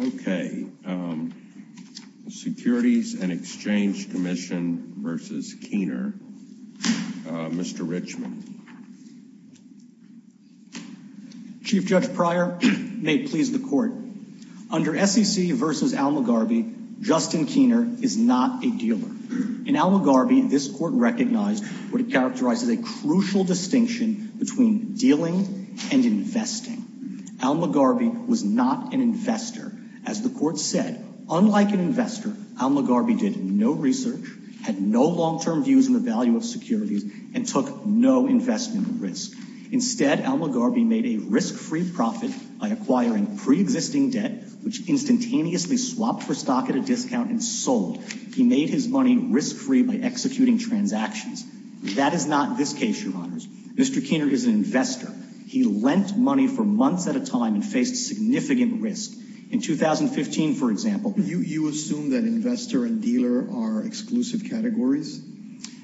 Okay. Securities and Exchange Commission v. Keener. Mr. Richmond. Chief Judge Pryor, may it please the court. Under SEC v. Al Mugarby, Justin Keener is not a dealer. In Al Mugarby, this court recognized what it characterized as a was not an investor. As the court said, unlike an investor, Al Mugarby did no research, had no long-term views on the value of securities, and took no investment risk. Instead, Al Mugarby made a risk-free profit by acquiring pre-existing debt, which instantaneously swapped for stock at a discount and sold. He made his money risk-free by executing transactions. That is not this case, Your Honors. Mr. Keener is an investor. He lent money for months at a significant risk. In 2015, for example... You assume that investor and dealer are exclusive categories?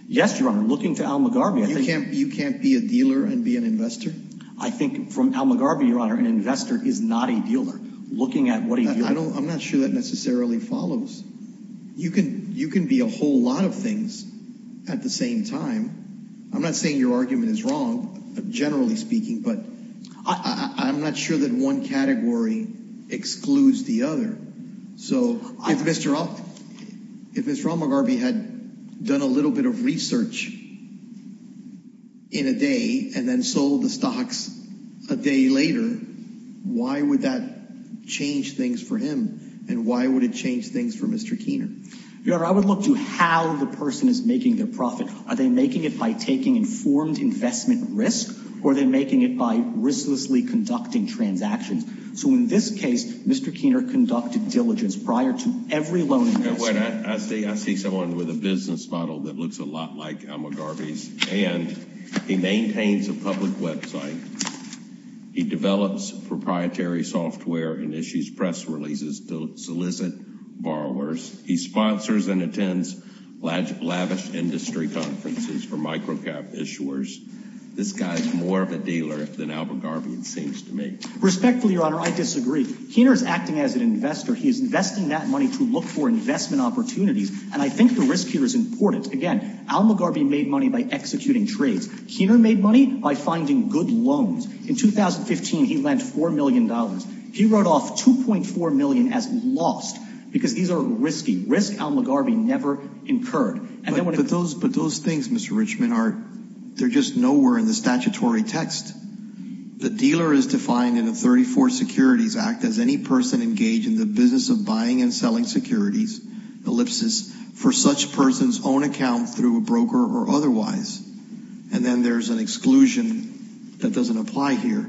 Yes, Your Honor. Looking to Al Mugarby, I think... You can't be a dealer and be an investor? I think from Al Mugarby, Your Honor, an investor is not a dealer. Looking at what he... I'm not sure that necessarily follows. You can be a whole lot of things at the same time. I'm not saying your argument is one category excludes the other. So if Mr. Al Mugarby had done a little bit of research in a day and then sold the stocks a day later, why would that change things for him? And why would it change things for Mr. Keener? Your Honor, I would look to how the person is making their profit. Are they making it by taking informed investment risk, or are they making it by risklessly conducting transactions? So in this case, Mr. Keener conducted diligence prior to every loan investment. I see someone with a business model that looks a lot like Al Mugarby's. And he maintains a public website. He develops proprietary software and issues press releases to solicit borrowers. He sponsors and attends lavish industry conferences for micro-cap issuers. This guy's more of a dealer than Al Mugarby seems to me. Respectfully, Your Honor, I disagree. Keener is acting as an investor. He is investing that money to look for investment opportunities. And I think the risk here is important. Again, Al Mugarby made money by executing trades. Keener made money by finding good loans. In 2015, he lent four million dollars. He wrote off 2.4 million as lost because these are risky. Risk Al Mugarby never incurred. But those things, Mr. Richman, they're just nowhere in the statutory text. The dealer is defined in the 34 Securities Act as any person engaged in the business of buying and selling securities, ellipsis, for such person's own account through a broker or otherwise. And then there's an exclusion that doesn't apply here.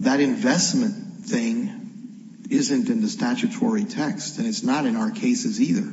That investment thing isn't in the statutory text. And it's not in our cases either.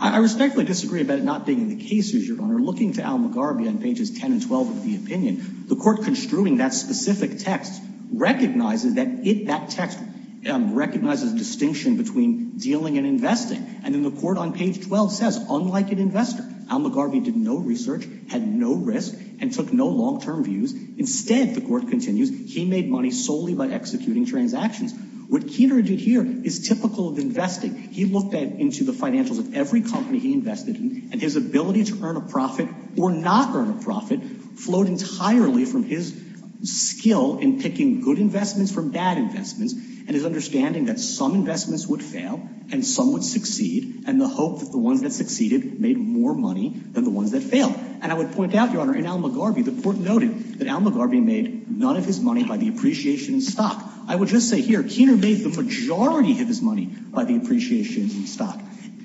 I respectfully disagree about it not being the case, Your Honor. Looking to Al Mugarby on pages 10 and 12 of the opinion, the court construing that specific text recognizes that it, that text recognizes distinction between dealing and investing. And in the court on page 12 says, unlike an investor, Al Mugarby did no research, had no risk, and took no long-term views. Instead, the court continues, he made money solely by executing transactions. What Keener did here is typical of investing. He looked into the financials of every company he invested in, and his ability to earn a profit or not earn a profit flowed entirely from his skill in picking good investments from bad investments, and his understanding that some investments would fail and some would succeed, and the hope that the ones that succeeded made more money than the ones that failed. And I would point out, Your Honor, in Al Mugarby, the court noted that Al Mugarby made none of his money by the appreciation in stock. I would just say here, Keener made the majority of his money by the appreciation in stock.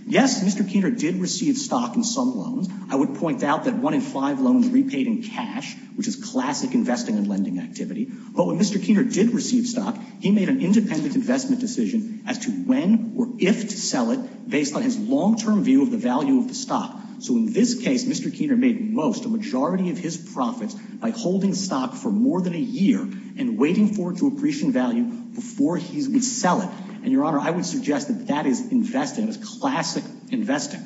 Yes, Mr. Keener did receive stock in some loans. I would point out that one in five loans repaid in cash, which is classic investing and lending activity. But when Mr. Keener did receive stock, he made an independent investment decision as to when or if to sell it, based on his long-term view of the value of the stock. So in this case, Mr. Keener made most, a majority of his profits, by holding stock for more than a year and waiting for it to appreciate in value before he would sell it. And, Your Honor, I would suggest that that is investing. It's classic investing.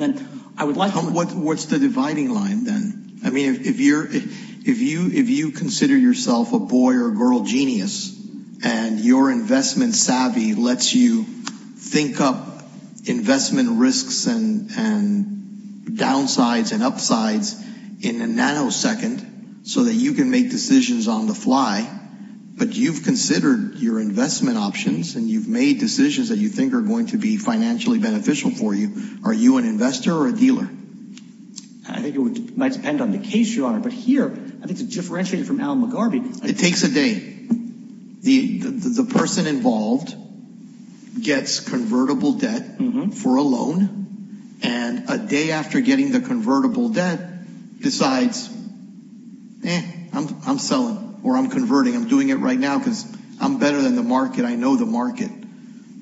And I would like to... What's the dividing line, then? I mean, if you're, if you, if you consider yourself a boy or girl genius and your investment savvy lets you think up investment risks and downsides and upsides in a nanosecond, so that you can make decisions on the fly, but you've considered your investment options and you've made decisions that you think are going to be financially beneficial for you, are you an investor or a dealer? I think it might depend on the case, Your Honor, but here, I think it's differentiated from Al McGarvey. It takes a day. The person involved gets convertible debt for a loan, and a day after getting the convertible debt decides, eh, I'm selling or I'm converting. I'm doing it right now because I'm better than the market. I know the market.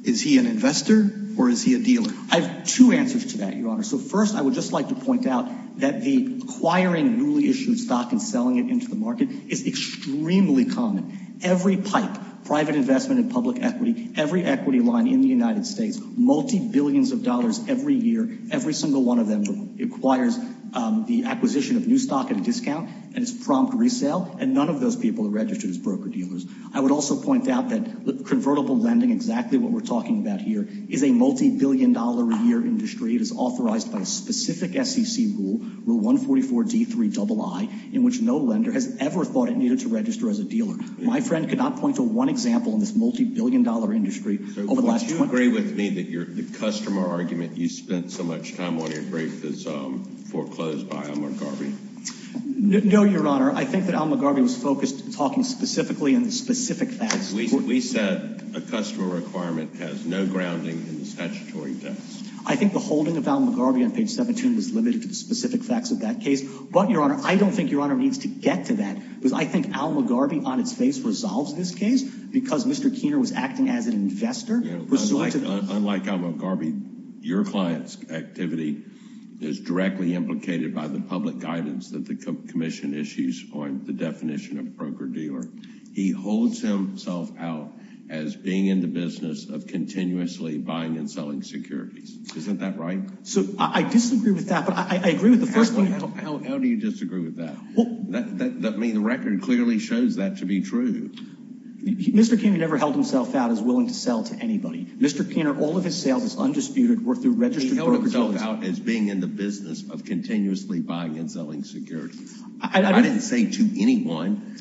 Is he an investor or is he a dealer? I have two answers to that, Your Honor. So first, I would just like to point out that the acquiring newly issued stock and selling it into the market is extremely common. Every pipe, private investment in public equity, every equity line in the United States, multi billions of dollars every year, every single one of them acquires the acquisition of new stock at a discount, and it's prompt resale, and none of those people are registered as broker-dealers. I would also point out that convertible lending, exactly what we're talking about here, is a multi-billion-dollar-a-year industry. It is authorized by a specific SEC rule, Rule 144 D3 III, in which no lender has ever thought it needed to register as a dealer. My friend could not point to one example in this multi-billion-dollar industry over the last 20 years. So would you agree with me that the customer argument you spent so much time on your brief is foreclosed by Al McGarvey? No, Your Honor. I think that Al McGarvey was focused talking specifically in the specific facts. We said a customer requirement has no grounding in the statutory text. I think the holding of Al McGarvey on page 17 was limited to the specific facts of that case, but, Your Honor, I don't think Your Honor needs to get to that because I think Al McGarvey on its face resolves this case because Mr. Keener was acting as an investor. Unlike Al McGarvey, your client's activity is directly implicated by the public guidance that the Commission issues on the definition of a broker-dealer. He holds himself out as being in the business of continuously buying and selling securities. Isn't that right? So I disagree with that, but I agree with the first point. How do you disagree with that? I mean, the record clearly shows that to be true. Mr. Keener never held himself out as willing to sell to anybody. Mr. Keener, all of his sales is undisputed were through registered broker-dealers. He held himself out as being in the business of continuously buying and selling securities. I didn't say to anyone.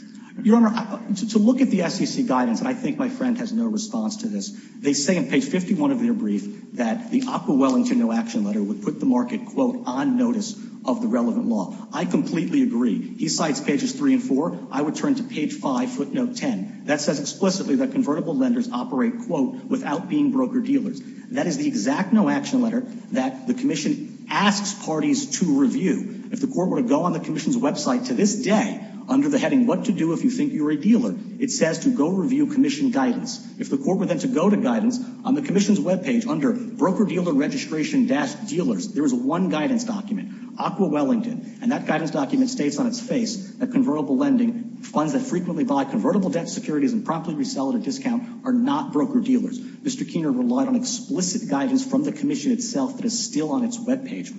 Your Honor, to look at the SEC guidance, and I think my friend has no response to this, they say in page 51 of their brief that the Occoquan Wellington no-action letter would put the market, quote, on notice of the relevant law. I completely agree. He cites pages 3 and 4. I would turn to page 5, footnote 10. That says explicitly that convertible lenders operate, quote, without being broker-dealers. That is the exact no-action letter that the Commission asks parties to review. If the court were to go on the Commission's website to this day, under the heading, What to Do If You Think You're a Dealer, it says to go review Commission guidance. If the court were then to go to guidance on the Commission's webpage under broker-dealer registration-dealers, there is one guidance document, Occoquan Wellington, and that guidance document states on its face that convertible lending, funds that frequently buy convertible debt securities and promptly resell at a discount, are not broker- dealer. Mr. Keener relied on explicit guidance from the Commission itself that is still on its webpage.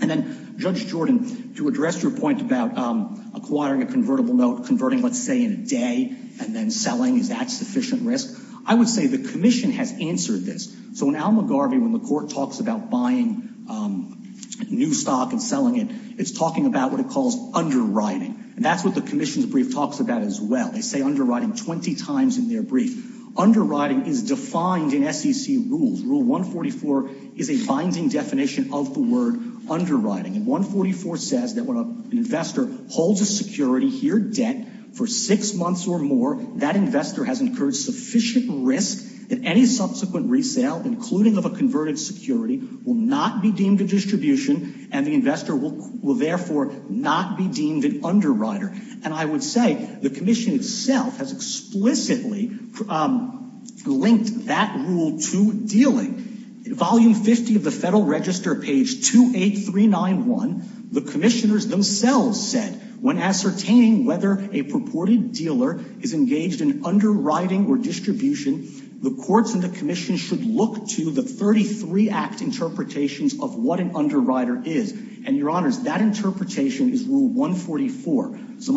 And then, Judge Jordan, to address your point about acquiring a convertible note, converting, let's say, in a day and then selling, is that sufficient risk? I would say the Commission has answered this. So when Al McGarvey, when the court talks about buying new stock and selling it, it's talking about what it calls underwriting. And that's what the Commission's brief talks about as well. They say underwriting 20 times in their brief. Underwriting is defined in SEC rules. Rule 144 is a binding definition of the word underwriting. And 144 says that when an investor holds a security, here debt, for six months or more, that investor has incurred sufficient risk that any subsequent resale, including of a converted security, will not be deemed a distribution and the investor will therefore not be deemed an underwriter. And I would say the Commission itself has explicitly linked that rule to dealing. Volume 50 of the Federal Register, page 28391, the Commissioners themselves said, when ascertaining whether a purported dealer is engaged in underwriting or distribution, the courts and the Commission should look to the 33 Act interpretations of what an underwriter is. And, Your Honors, that my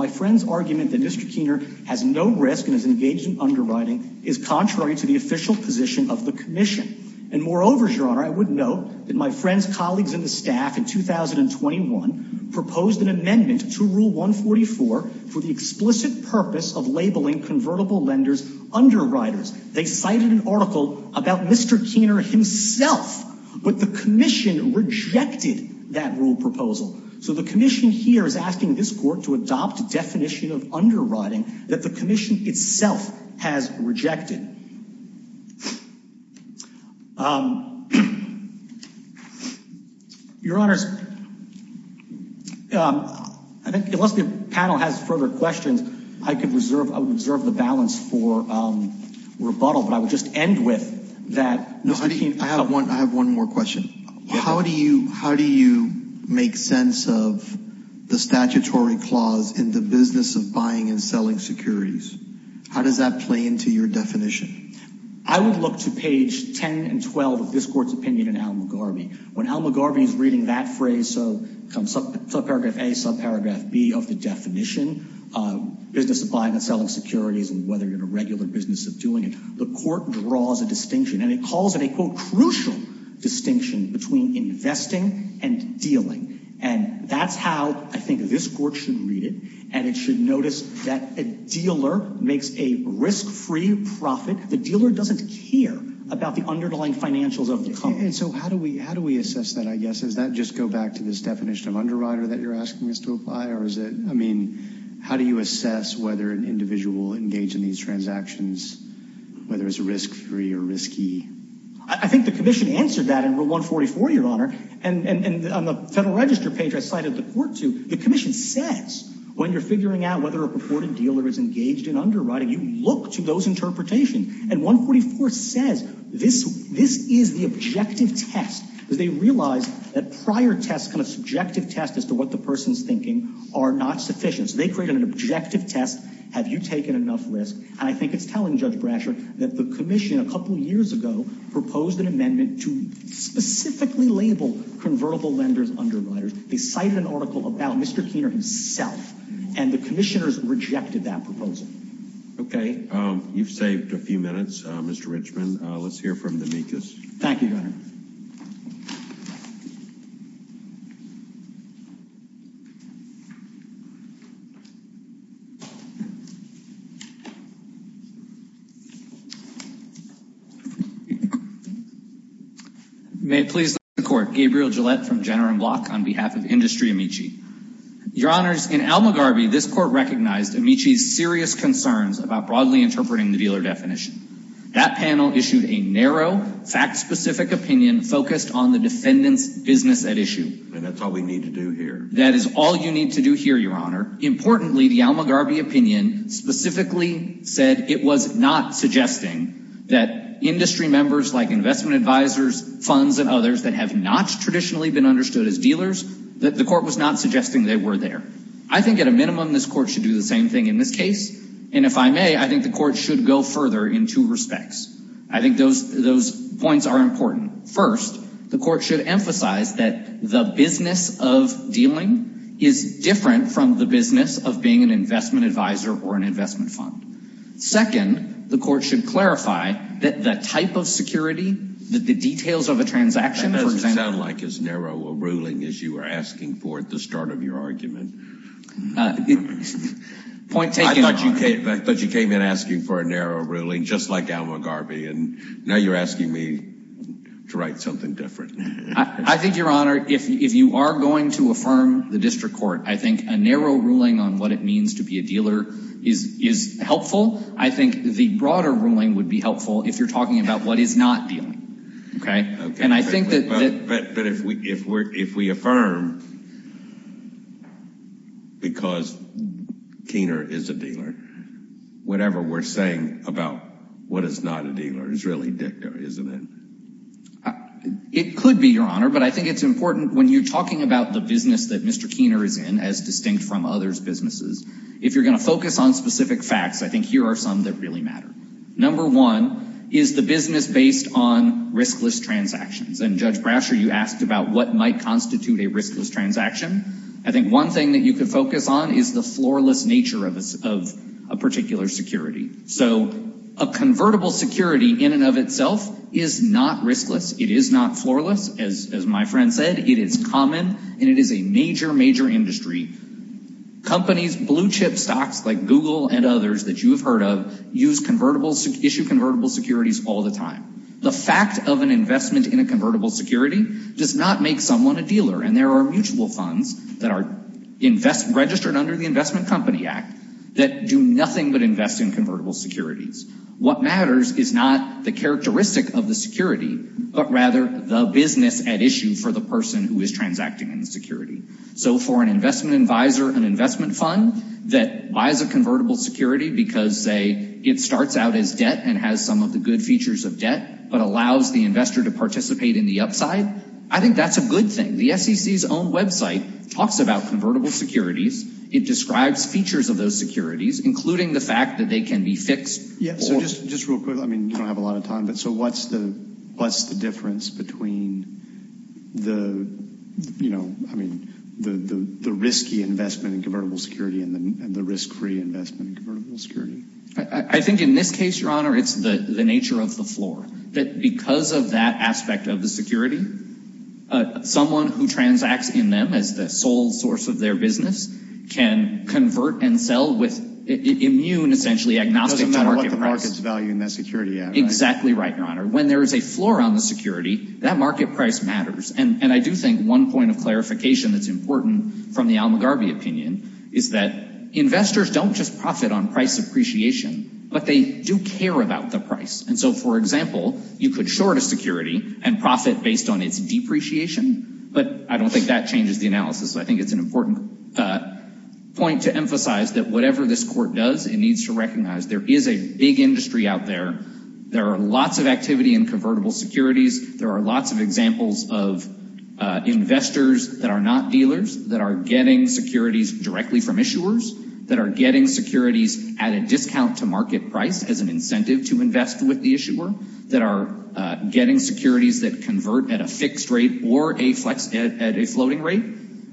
friend's argument that Mr. Keener has no risk and is engaged in underwriting is contrary to the official position of the Commission. And moreover, Your Honor, I would note that my friend's colleagues in the staff in 2021 proposed an amendment to Rule 144 for the explicit purpose of labeling convertible lenders underwriters. They cited an article about Mr. Keener himself, but the Commission rejected that rule proposal. So the Commission here is asking this court to adopt a definition of underwriting that the Commission itself has rejected. Your Honors, I think unless the panel has further questions, I could reserve, I would reserve the balance for rebuttal, but I would just end with that. I have one, I have one more question. How do you, how do you make sense of the clause in the business of buying and selling securities? How does that play into your definition? I would look to page 10 and 12 of this court's opinion in Al Mugarby. When Al Mugarby is reading that phrase, so subparagraph A, subparagraph B of the definition, business of buying and selling securities and whether you're in a regular business of doing it, the court draws a distinction and it calls it a, quote, crucial distinction between investing and dealing. And that's how I think this court should read it and it should notice that a dealer makes a risk-free profit. The dealer doesn't care about the underlying financials of the company. And so how do we, how do we assess that, I guess? Does that just go back to this definition of underwriter that you're asking us to apply or is it, I mean, how do you assess whether an individual engaged in these transactions, whether it's risk-free or risky? I think the and on the Federal Register page I cited the court to, the Commission says when you're figuring out whether a purported dealer is engaged in underwriting, you look to those interpretations. And 144 says this, this is the objective test because they realize that prior tests, kind of subjective tests as to what the person's thinking are not sufficient. So they create an objective test, have you taken enough risk? And I think it's telling Judge Brasher that the Commission a couple years ago proposed an amendment to specifically label convertible lenders underwriters. They cited an article about Mr. Keener himself and the Commissioners rejected that proposal. Okay, you've saved a few minutes, Mr. Richmond. Let's hear from the MECUS. Thank you, Your Honor. May it please the Court. Gabriel Gillette from Jenner & Block on behalf of Industry Amici. Your Honors, in Almagarby, this Court recognized Amici's serious concerns about broadly interpreting the dealer definition. That panel issued a narrow, fact-specific opinion focused on the defendant's business at issue. And that's all we need to do here. That is all you need to do here, Your Honor. Importantly, the Almagarby opinion specifically said it was not suggesting that industry members like investment advisors, funds, and others that have not traditionally been understood as dealers, that the Court was not suggesting they were there. I think at a minimum this Court should do the same thing in this case. And if I may, I think the Court should go further in two respects. I think those those points are important. First, the Court should emphasize that the business of dealing is different from the business of being an investment advisor or an investment fund. Second, the Court should clarify that the type of security, that the details of a transaction, for example... That doesn't sound like as narrow a ruling as you were asking for at the start of your argument. Point taken, Your Honor. I thought you came in asking for a narrow ruling, just like Almagarby, and now you're asking me to write something different. I think, Your Honor, if you are going to affirm the dealer is helpful, I think the broader ruling would be helpful if you're talking about what is not dealing. Okay? And I think that... But if we affirm because Keener is a dealer, whatever we're saying about what is not a dealer is really dicta, isn't it? It could be, Your Honor, but I think it's important when you're talking about the business that Mr. Keener is in, as you're going to focus on specific facts. I think here are some that really matter. Number one is the business based on riskless transactions. And Judge Brasher, you asked about what might constitute a riskless transaction. I think one thing that you could focus on is the floorless nature of a particular security. So a convertible security in and of itself is not riskless. It is not floorless. As my friend said, it is common and it is a major, major industry. Companies, blue-chip stocks like Google and others that you have heard of, use convertible, issue convertible securities all the time. The fact of an investment in a convertible security does not make someone a dealer. And there are mutual funds that are registered under the Investment Company Act that do nothing but invest in convertible securities. What matters is not the characteristic of the security, but rather the business at issue for the person who is transacting in the security. So for an investment advisor, an investment fund that buys a convertible security because, say, it starts out as debt and has some of the good features of debt, but allows the investor to participate in the upside, I think that's a good thing. The SEC's own website talks about convertible securities. It describes features of those securities, including the fact that they can be fixed. Yeah, so just real quick. I mean, you don't have a lot of I mean, the risky investment in convertible security and the risk-free investment in convertible security? I think in this case, Your Honor, it's the nature of the floor. That because of that aspect of the security, someone who transacts in them as the sole source of their business can convert and sell with immune, essentially, agnostic market price. Doesn't matter what the market's value in that security, yeah. Exactly right, Your Honor. When there is a floor on the security, that market price matters. And I do think one point of clarification that's important from the Al McGarvey opinion is that investors don't just profit on price appreciation, but they do care about the price. And so, for example, you could short a security and profit based on its depreciation, but I don't think that changes the analysis. I think it's an important point to emphasize that whatever this court does, it needs to recognize there is a big industry out there. There are lots of activity in convertible securities. There are lots of examples of investors that are not dealers that are getting securities directly from issuers, that are getting securities at a discount to market price as an incentive to invest with the issuer, that are getting securities that convert at a fixed rate or at a floating rate.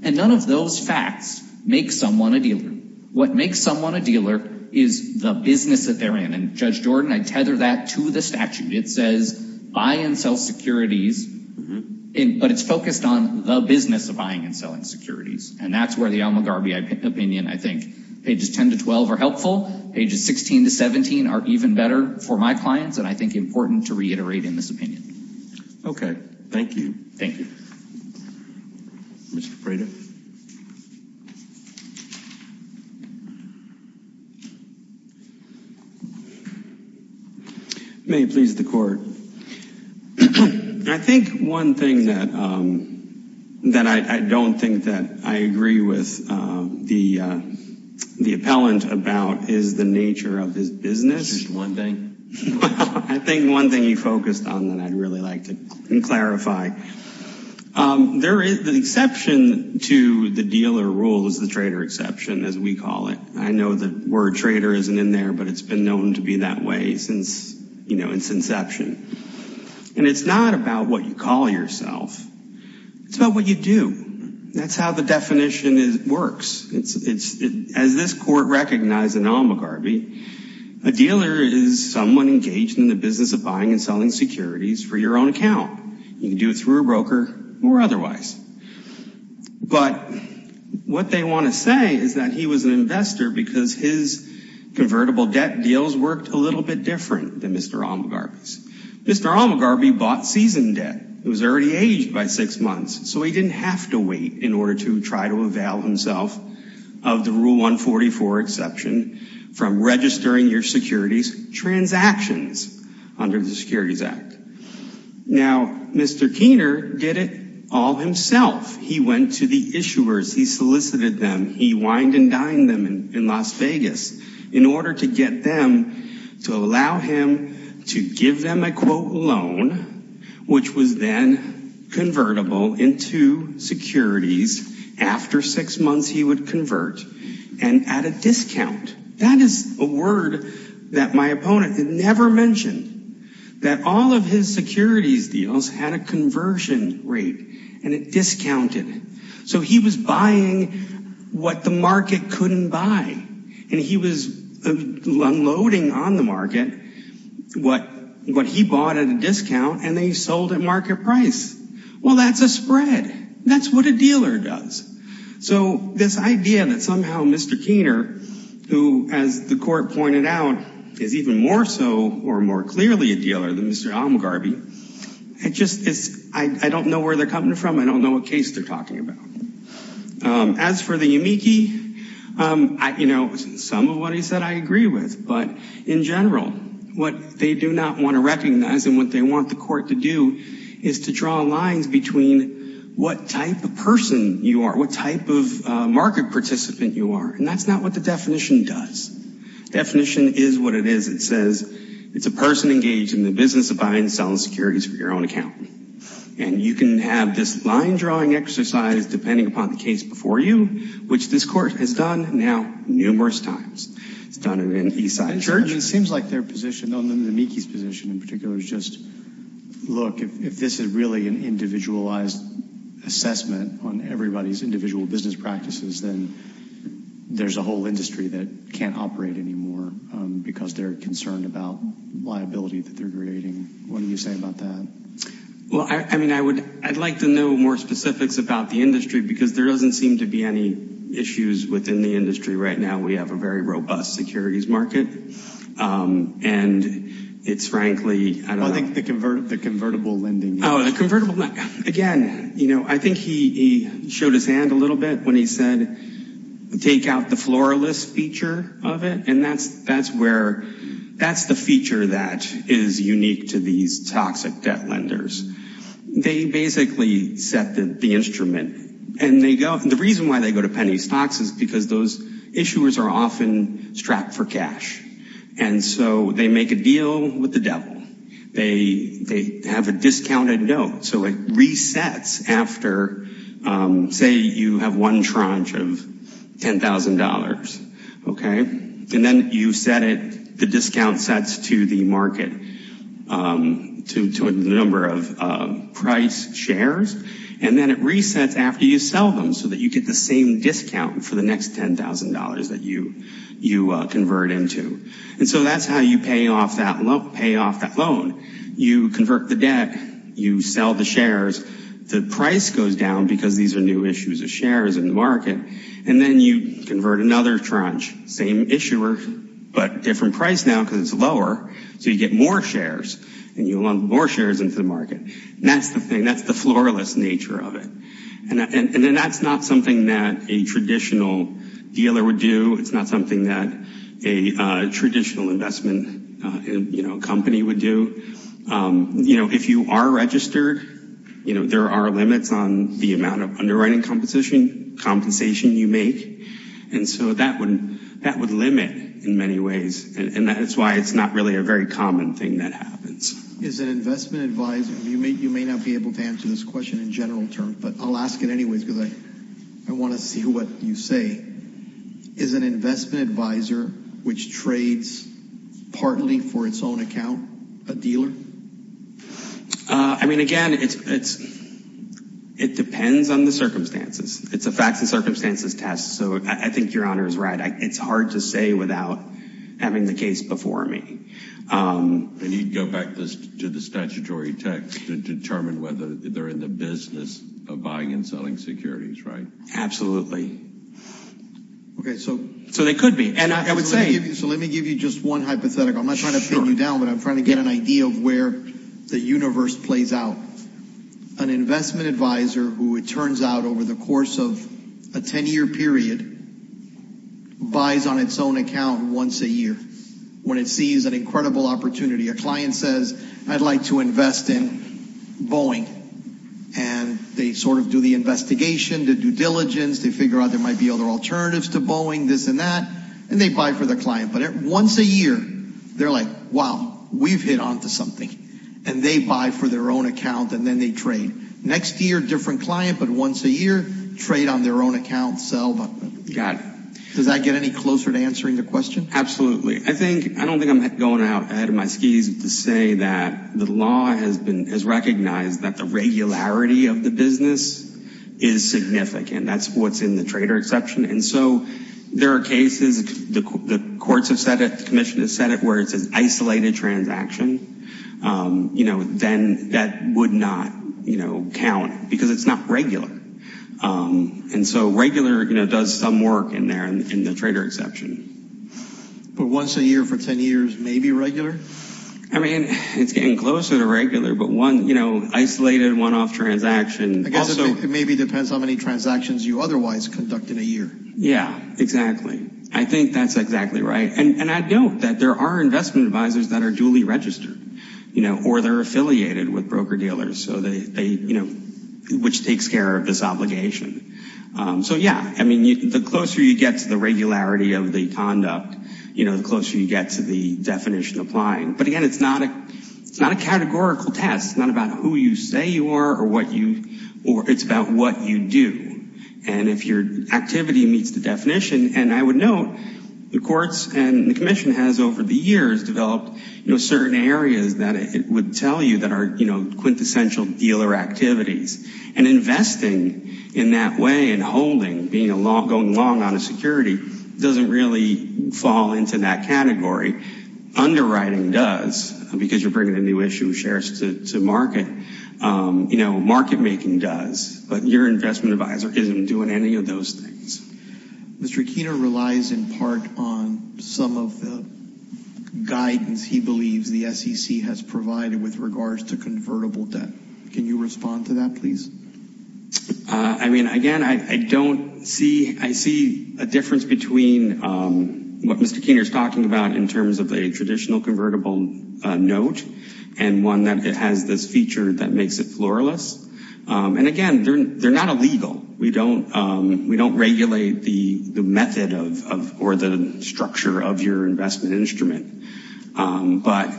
And none of those facts make someone a dealer. What makes someone a dealer is the business that they're in. Judge Jordan, I tether that to the statute. It says buy and sell securities, but it's focused on the business of buying and selling securities. And that's where the Al McGarvey opinion, I think pages 10 to 12 are helpful. Pages 16 to 17 are even better for my clients, and I think important to reiterate in this opinion. Okay, thank you. Thank you. Mr. Prater. May it please the court. I think one thing that I don't think that I agree with the appellant about is the nature of his business. Just one thing? I think one thing he focused on that I'd really like to clarify. The exception to the dealer rule is the trader exception, as we call it. I know the word trader isn't in there, but it's been known to be that way since its inception. And it's not about what you call yourself. It's about what you do. That's how the definition works. As this court recognized in Al McGarvey, a dealer is someone engaged in the business of buying and selling securities for your own account. You can do it through a broker or otherwise. But what they want to say is that he was an investor because his convertible debt deals worked a little bit different than Mr. Al McGarvey's. Mr. Al McGarvey bought season debt. He was already aged by six months, so he didn't have to wait in order to try to avail himself of the Rule 144 exception from registering your securities transactions under the Securities Act. Now, Mr. Keener did it all himself. He went to the issuers. He solicited them. He wined and dined them in Las Vegas in order to get them to allow him to give them a quote loan, which was then convertible into securities after six months he would convert and at a discount. That is a word that my opponent never mentioned, that all of his securities deals had a conversion rate and it discounted it. So he was buying what the market couldn't buy and he was unloading on the market what he bought at a discount and then he sold at market price. Well, that's a spread. That's what a dealer does. So this idea that somehow Mr. Al McGarvey, as the court pointed out, is even more so or more clearly a dealer than Mr. Al McGarvey, it just is, I don't know where they're coming from. I don't know what case they're talking about. As for the amici, you know, some of what he said I agree with, but in general, what they do not want to recognize and what they want the court to do is to draw lines between what type of person you are, what type of market participant you are, and that's not what the definition is. What it is, it says it's a person engaged in the business of buying and selling securities for your own account. And you can have this line drawing exercise, depending upon the case before you, which this court has done now numerous times. It's done it in Eastside Church. It seems like their position on the amici's position in particular is just, look, if this is really an individualized assessment on everybody's individual business practices, then there's a because they're concerned about liability that they're creating. What do you say about that? Well, I mean, I would, I'd like to know more specifics about the industry because there doesn't seem to be any issues within the industry right now. We have a very robust securities market and it's frankly, I don't know. I think the convertible lending. Oh, the convertible lending. Again, you know, I think he showed his hand a little bit when he said, take out the floralist feature of it. And that's, that's where, that's the feature that is unique to these toxic debt lenders. They basically set the instrument and they go, the reason why they go to penny stocks is because those issuers are often strapped for cash. And so they make a deal with the devil. They, they have a discounted note. So it resets after, say you have one tranche of $10,000. Okay. And then you set it, the discount sets to the market to a number of price shares. And then it resets after you sell them so that you get the same discount for the next $10,000 that you, you convert into. And so that's how you pay off that loan. You convert the debt, you sell the shares, the price goes down because these are new issues of shares in the market. And then you convert another tranche, same issuer, but different price now because it's lower. So you get more shares and you want more shares into the market. That's the thing. That's the floralist nature of it. And then that's not something that a traditional investment company would do. If you are registered, there are limits on the amount of underwriting compensation you make. And so that would limit in many ways. And that is why it's not really a very common thing that happens. Is an investment advisor, you may not be able to answer this question in general terms, but I'll ask it anyways because I want to see what you say. Is an investment advisor, which trades partly for its own account, a dealer? Uh, I mean, again, it's, it's, it depends on the circumstances. It's a facts and circumstances test. So I think your honor is right. It's hard to say without having the case before me. And you'd go back to the statutory text to determine whether they're in the business of buying and selling securities, right? Absolutely. Okay. So, so they could be, and I would say, so let me give you just one hypothetical. I'm not trying to pin you down, but I'm trying to get an idea of where the universe plays out. An investment advisor who it turns out over the course of a 10 year period buys on its own account once a year, when it sees an incredible opportunity, a client says, I'd like to invest in Boeing. And they sort of do the investigation to due diligence. They figure out there might be other alternatives to Boeing, this and that, and they buy for the client. But once a year, they're like, wow, we've hit onto something and they buy for their own account. And then they trade next year, different client, but once a year trade on their own account, sell, but does that get any closer to answering the question? Absolutely. I think, I don't think I'm going out ahead of my skis to say that the law has been, has recognized that the regularity of the business is significant. That's what's in the trader exception. And so there are cases, the courts have said it, the commission has said it, where it says isolated transaction, you know, then that would not, you know, count because it's not regular. And so regular, you know, does some work in there in the trader exception. But once a year for 10 years, maybe regular? I mean, it's getting closer to regular, but one, you know, isolated one-off transaction. Also, it maybe depends on how many transactions you otherwise conduct in a year. Yeah, exactly. I think that's exactly right. And I know that there are investment advisors that are duly registered, you know, or they're affiliated with broker dealers. So they, you know, which takes care of this obligation. So yeah, I mean, the closer you get to the regularity of the conduct, you know, the closer you get to the definition applying. But again, it's not a categorical test. It's not about who you say you are or what you, or it's about what you do. And if your activity meets the definition, and I would note the courts and the commission has over the years developed, you know, certain areas that it would tell you that are, you know, quintessential dealer activities. And investing in that way and holding, going long on a security doesn't really fall into that category. Underwriting does, because you're bringing a new issue of shares to market. You know, market making does, but your investment advisor isn't doing any of those things. Mr. Aquino relies in part on some of the guidance he believes the SEC has provided with regards to I mean, again, I don't see, I see a difference between what Mr. Keener is talking about in terms of a traditional convertible note and one that has this feature that makes it floorless. And again, they're not illegal. We don't, we don't regulate the method of, or the structure of your investment instrument. But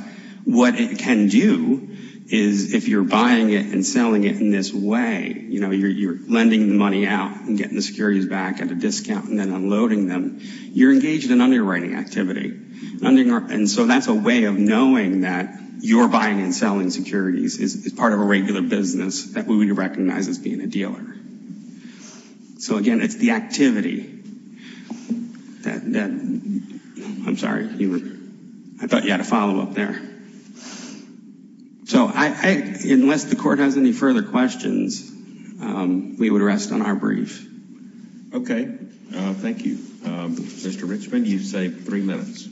what it can do is if you're buying it and selling it in this way, you know, you're lending the money out and getting the securities back at a discount and then unloading them, you're engaged in underwriting activity. And so that's a way of knowing that you're buying and selling securities is part of a regular business that we would recognize as being a dealer. So again, it's the activity that, I'm sorry, I thought you had a follow-up there. So I, unless the court has any further questions, we would rest on our brief. Okay. Thank you. Mr. Richman, you've saved three minutes.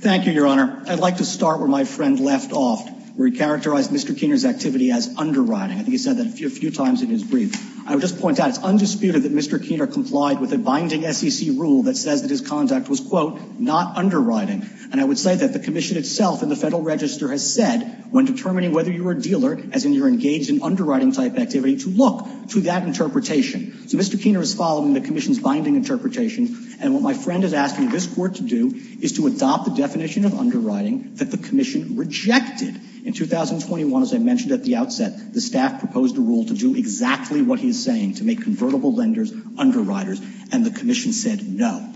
Thank you, Your Honor. I'd like to start where my friend left off, where he characterized Mr. Keener's activity as underwriting. I think he said that a few times in his brief. I would just point out it's undisputed that Mr. Keener complied with a binding SEC rule that says that his conduct was, quote, not underwriting. And I would say that the Commission itself and the Federal Register has said, when determining whether you're a dealer, as in you're engaged in underwriting type activity, to look to that interpretation. So Mr. Keener is following the Commission's binding interpretation. And what my friend is asking this court to do is to adopt the definition of underwriting that the Commission rejected. In 2021, as I mentioned at the outset, the staff proposed a rule to do exactly what he's saying, to make convertible lenders underwriters. And the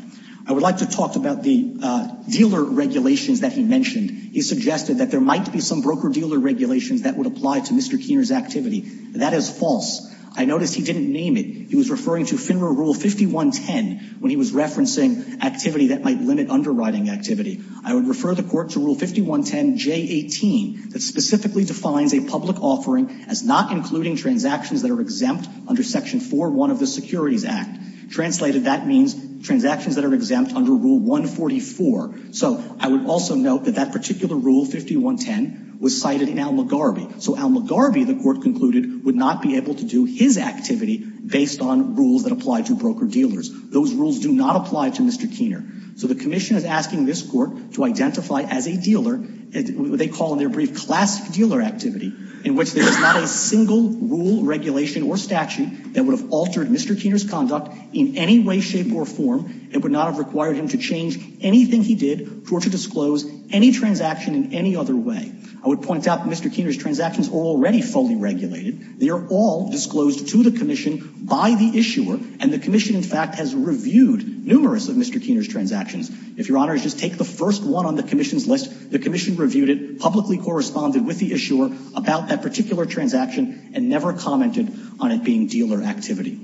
like to talk about the dealer regulations that he mentioned. He suggested that there might be some broker-dealer regulations that would apply to Mr. Keener's activity. That is false. I noticed he didn't name it. He was referring to FINRA Rule 5110 when he was referencing activity that might limit underwriting activity. I would refer the court to Rule 5110J18 that specifically defines a public offering as not including transactions that are exempt under Section 401 of the Securities Act. Translated, that means transactions that are exempt under Rule 144. So I would also note that that particular Rule 5110 was cited in Al McGarvey. So Al McGarvey, the court concluded, would not be able to do his activity based on rules that apply to broker-dealers. Those rules do not apply to Mr. Keener. So the Commission is asking this court to identify as a dealer, what they call in their brief, classic dealer activity, in which there is not a single rule, regulation, or statute that would have altered Mr. Keener's conduct in any way, shape, or form. It would not have required him to change anything he did or to disclose any transaction in any other way. I would point out that Mr. Keener's transactions are already fully regulated. They are all disclosed to the Commission by the issuer, and the Commission, in fact, has reviewed numerous of Mr. Keener's transactions. If your honor, just take the first one on the Commission's list. The Commission reviewed it, publicly corresponded with the issuer about that particular transaction, and never commented on it being dealer activity.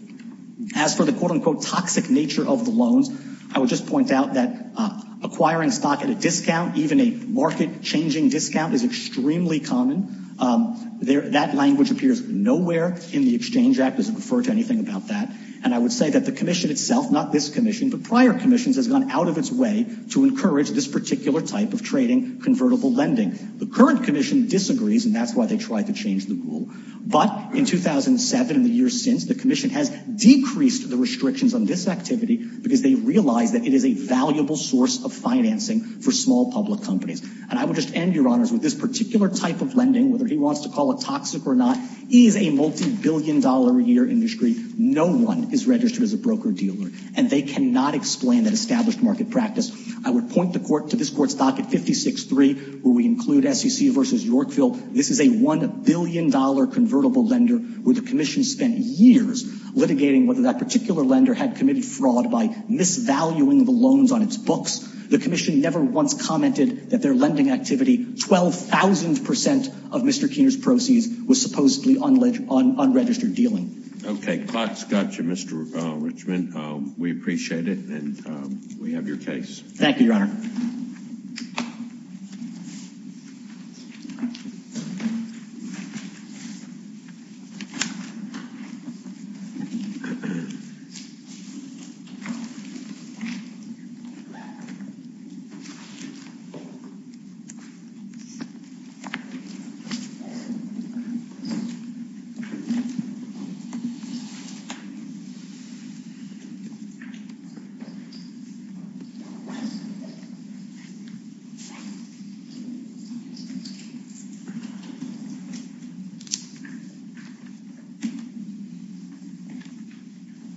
As for the quote-unquote toxic nature of the loans, I would just point out that acquiring stock at a discount, even a market-changing discount, is extremely common. That language appears nowhere in the Exchange Act. It doesn't refer to anything about that. And I would say that the Commission itself, not this Commission, but prior commissions, has gone out of its way to encourage this particular type of trading, convertible lending. The current Commission disagrees, and that's why they tried to change the rule. But in 2007 and the years since, the Commission has decreased the restrictions on this activity because they realize that it is a valuable source of financing for small public companies. And I would just end, your honors, with this particular type of lending, whether he wants to call it toxic or not, is a multi-billion dollar a year industry. No one is registered as a broker-dealer, and they cannot explain that established market practice. I would point the court to this Court's docket 56-3, where we include SEC v. Yorkville. This is a $1 billion convertible lender where the Commission spent years litigating whether that particular lender had committed fraud by misvaluing the loans on its books. The Commission never once commented that their lending activity, 12,000 percent of Mr. Keener's proceeds, was supposedly unregistered dealing. Okay, clock's got you, Mr. Richman. We appreciate it, and we have your case. Thank you, your honor. Thank you, your honor.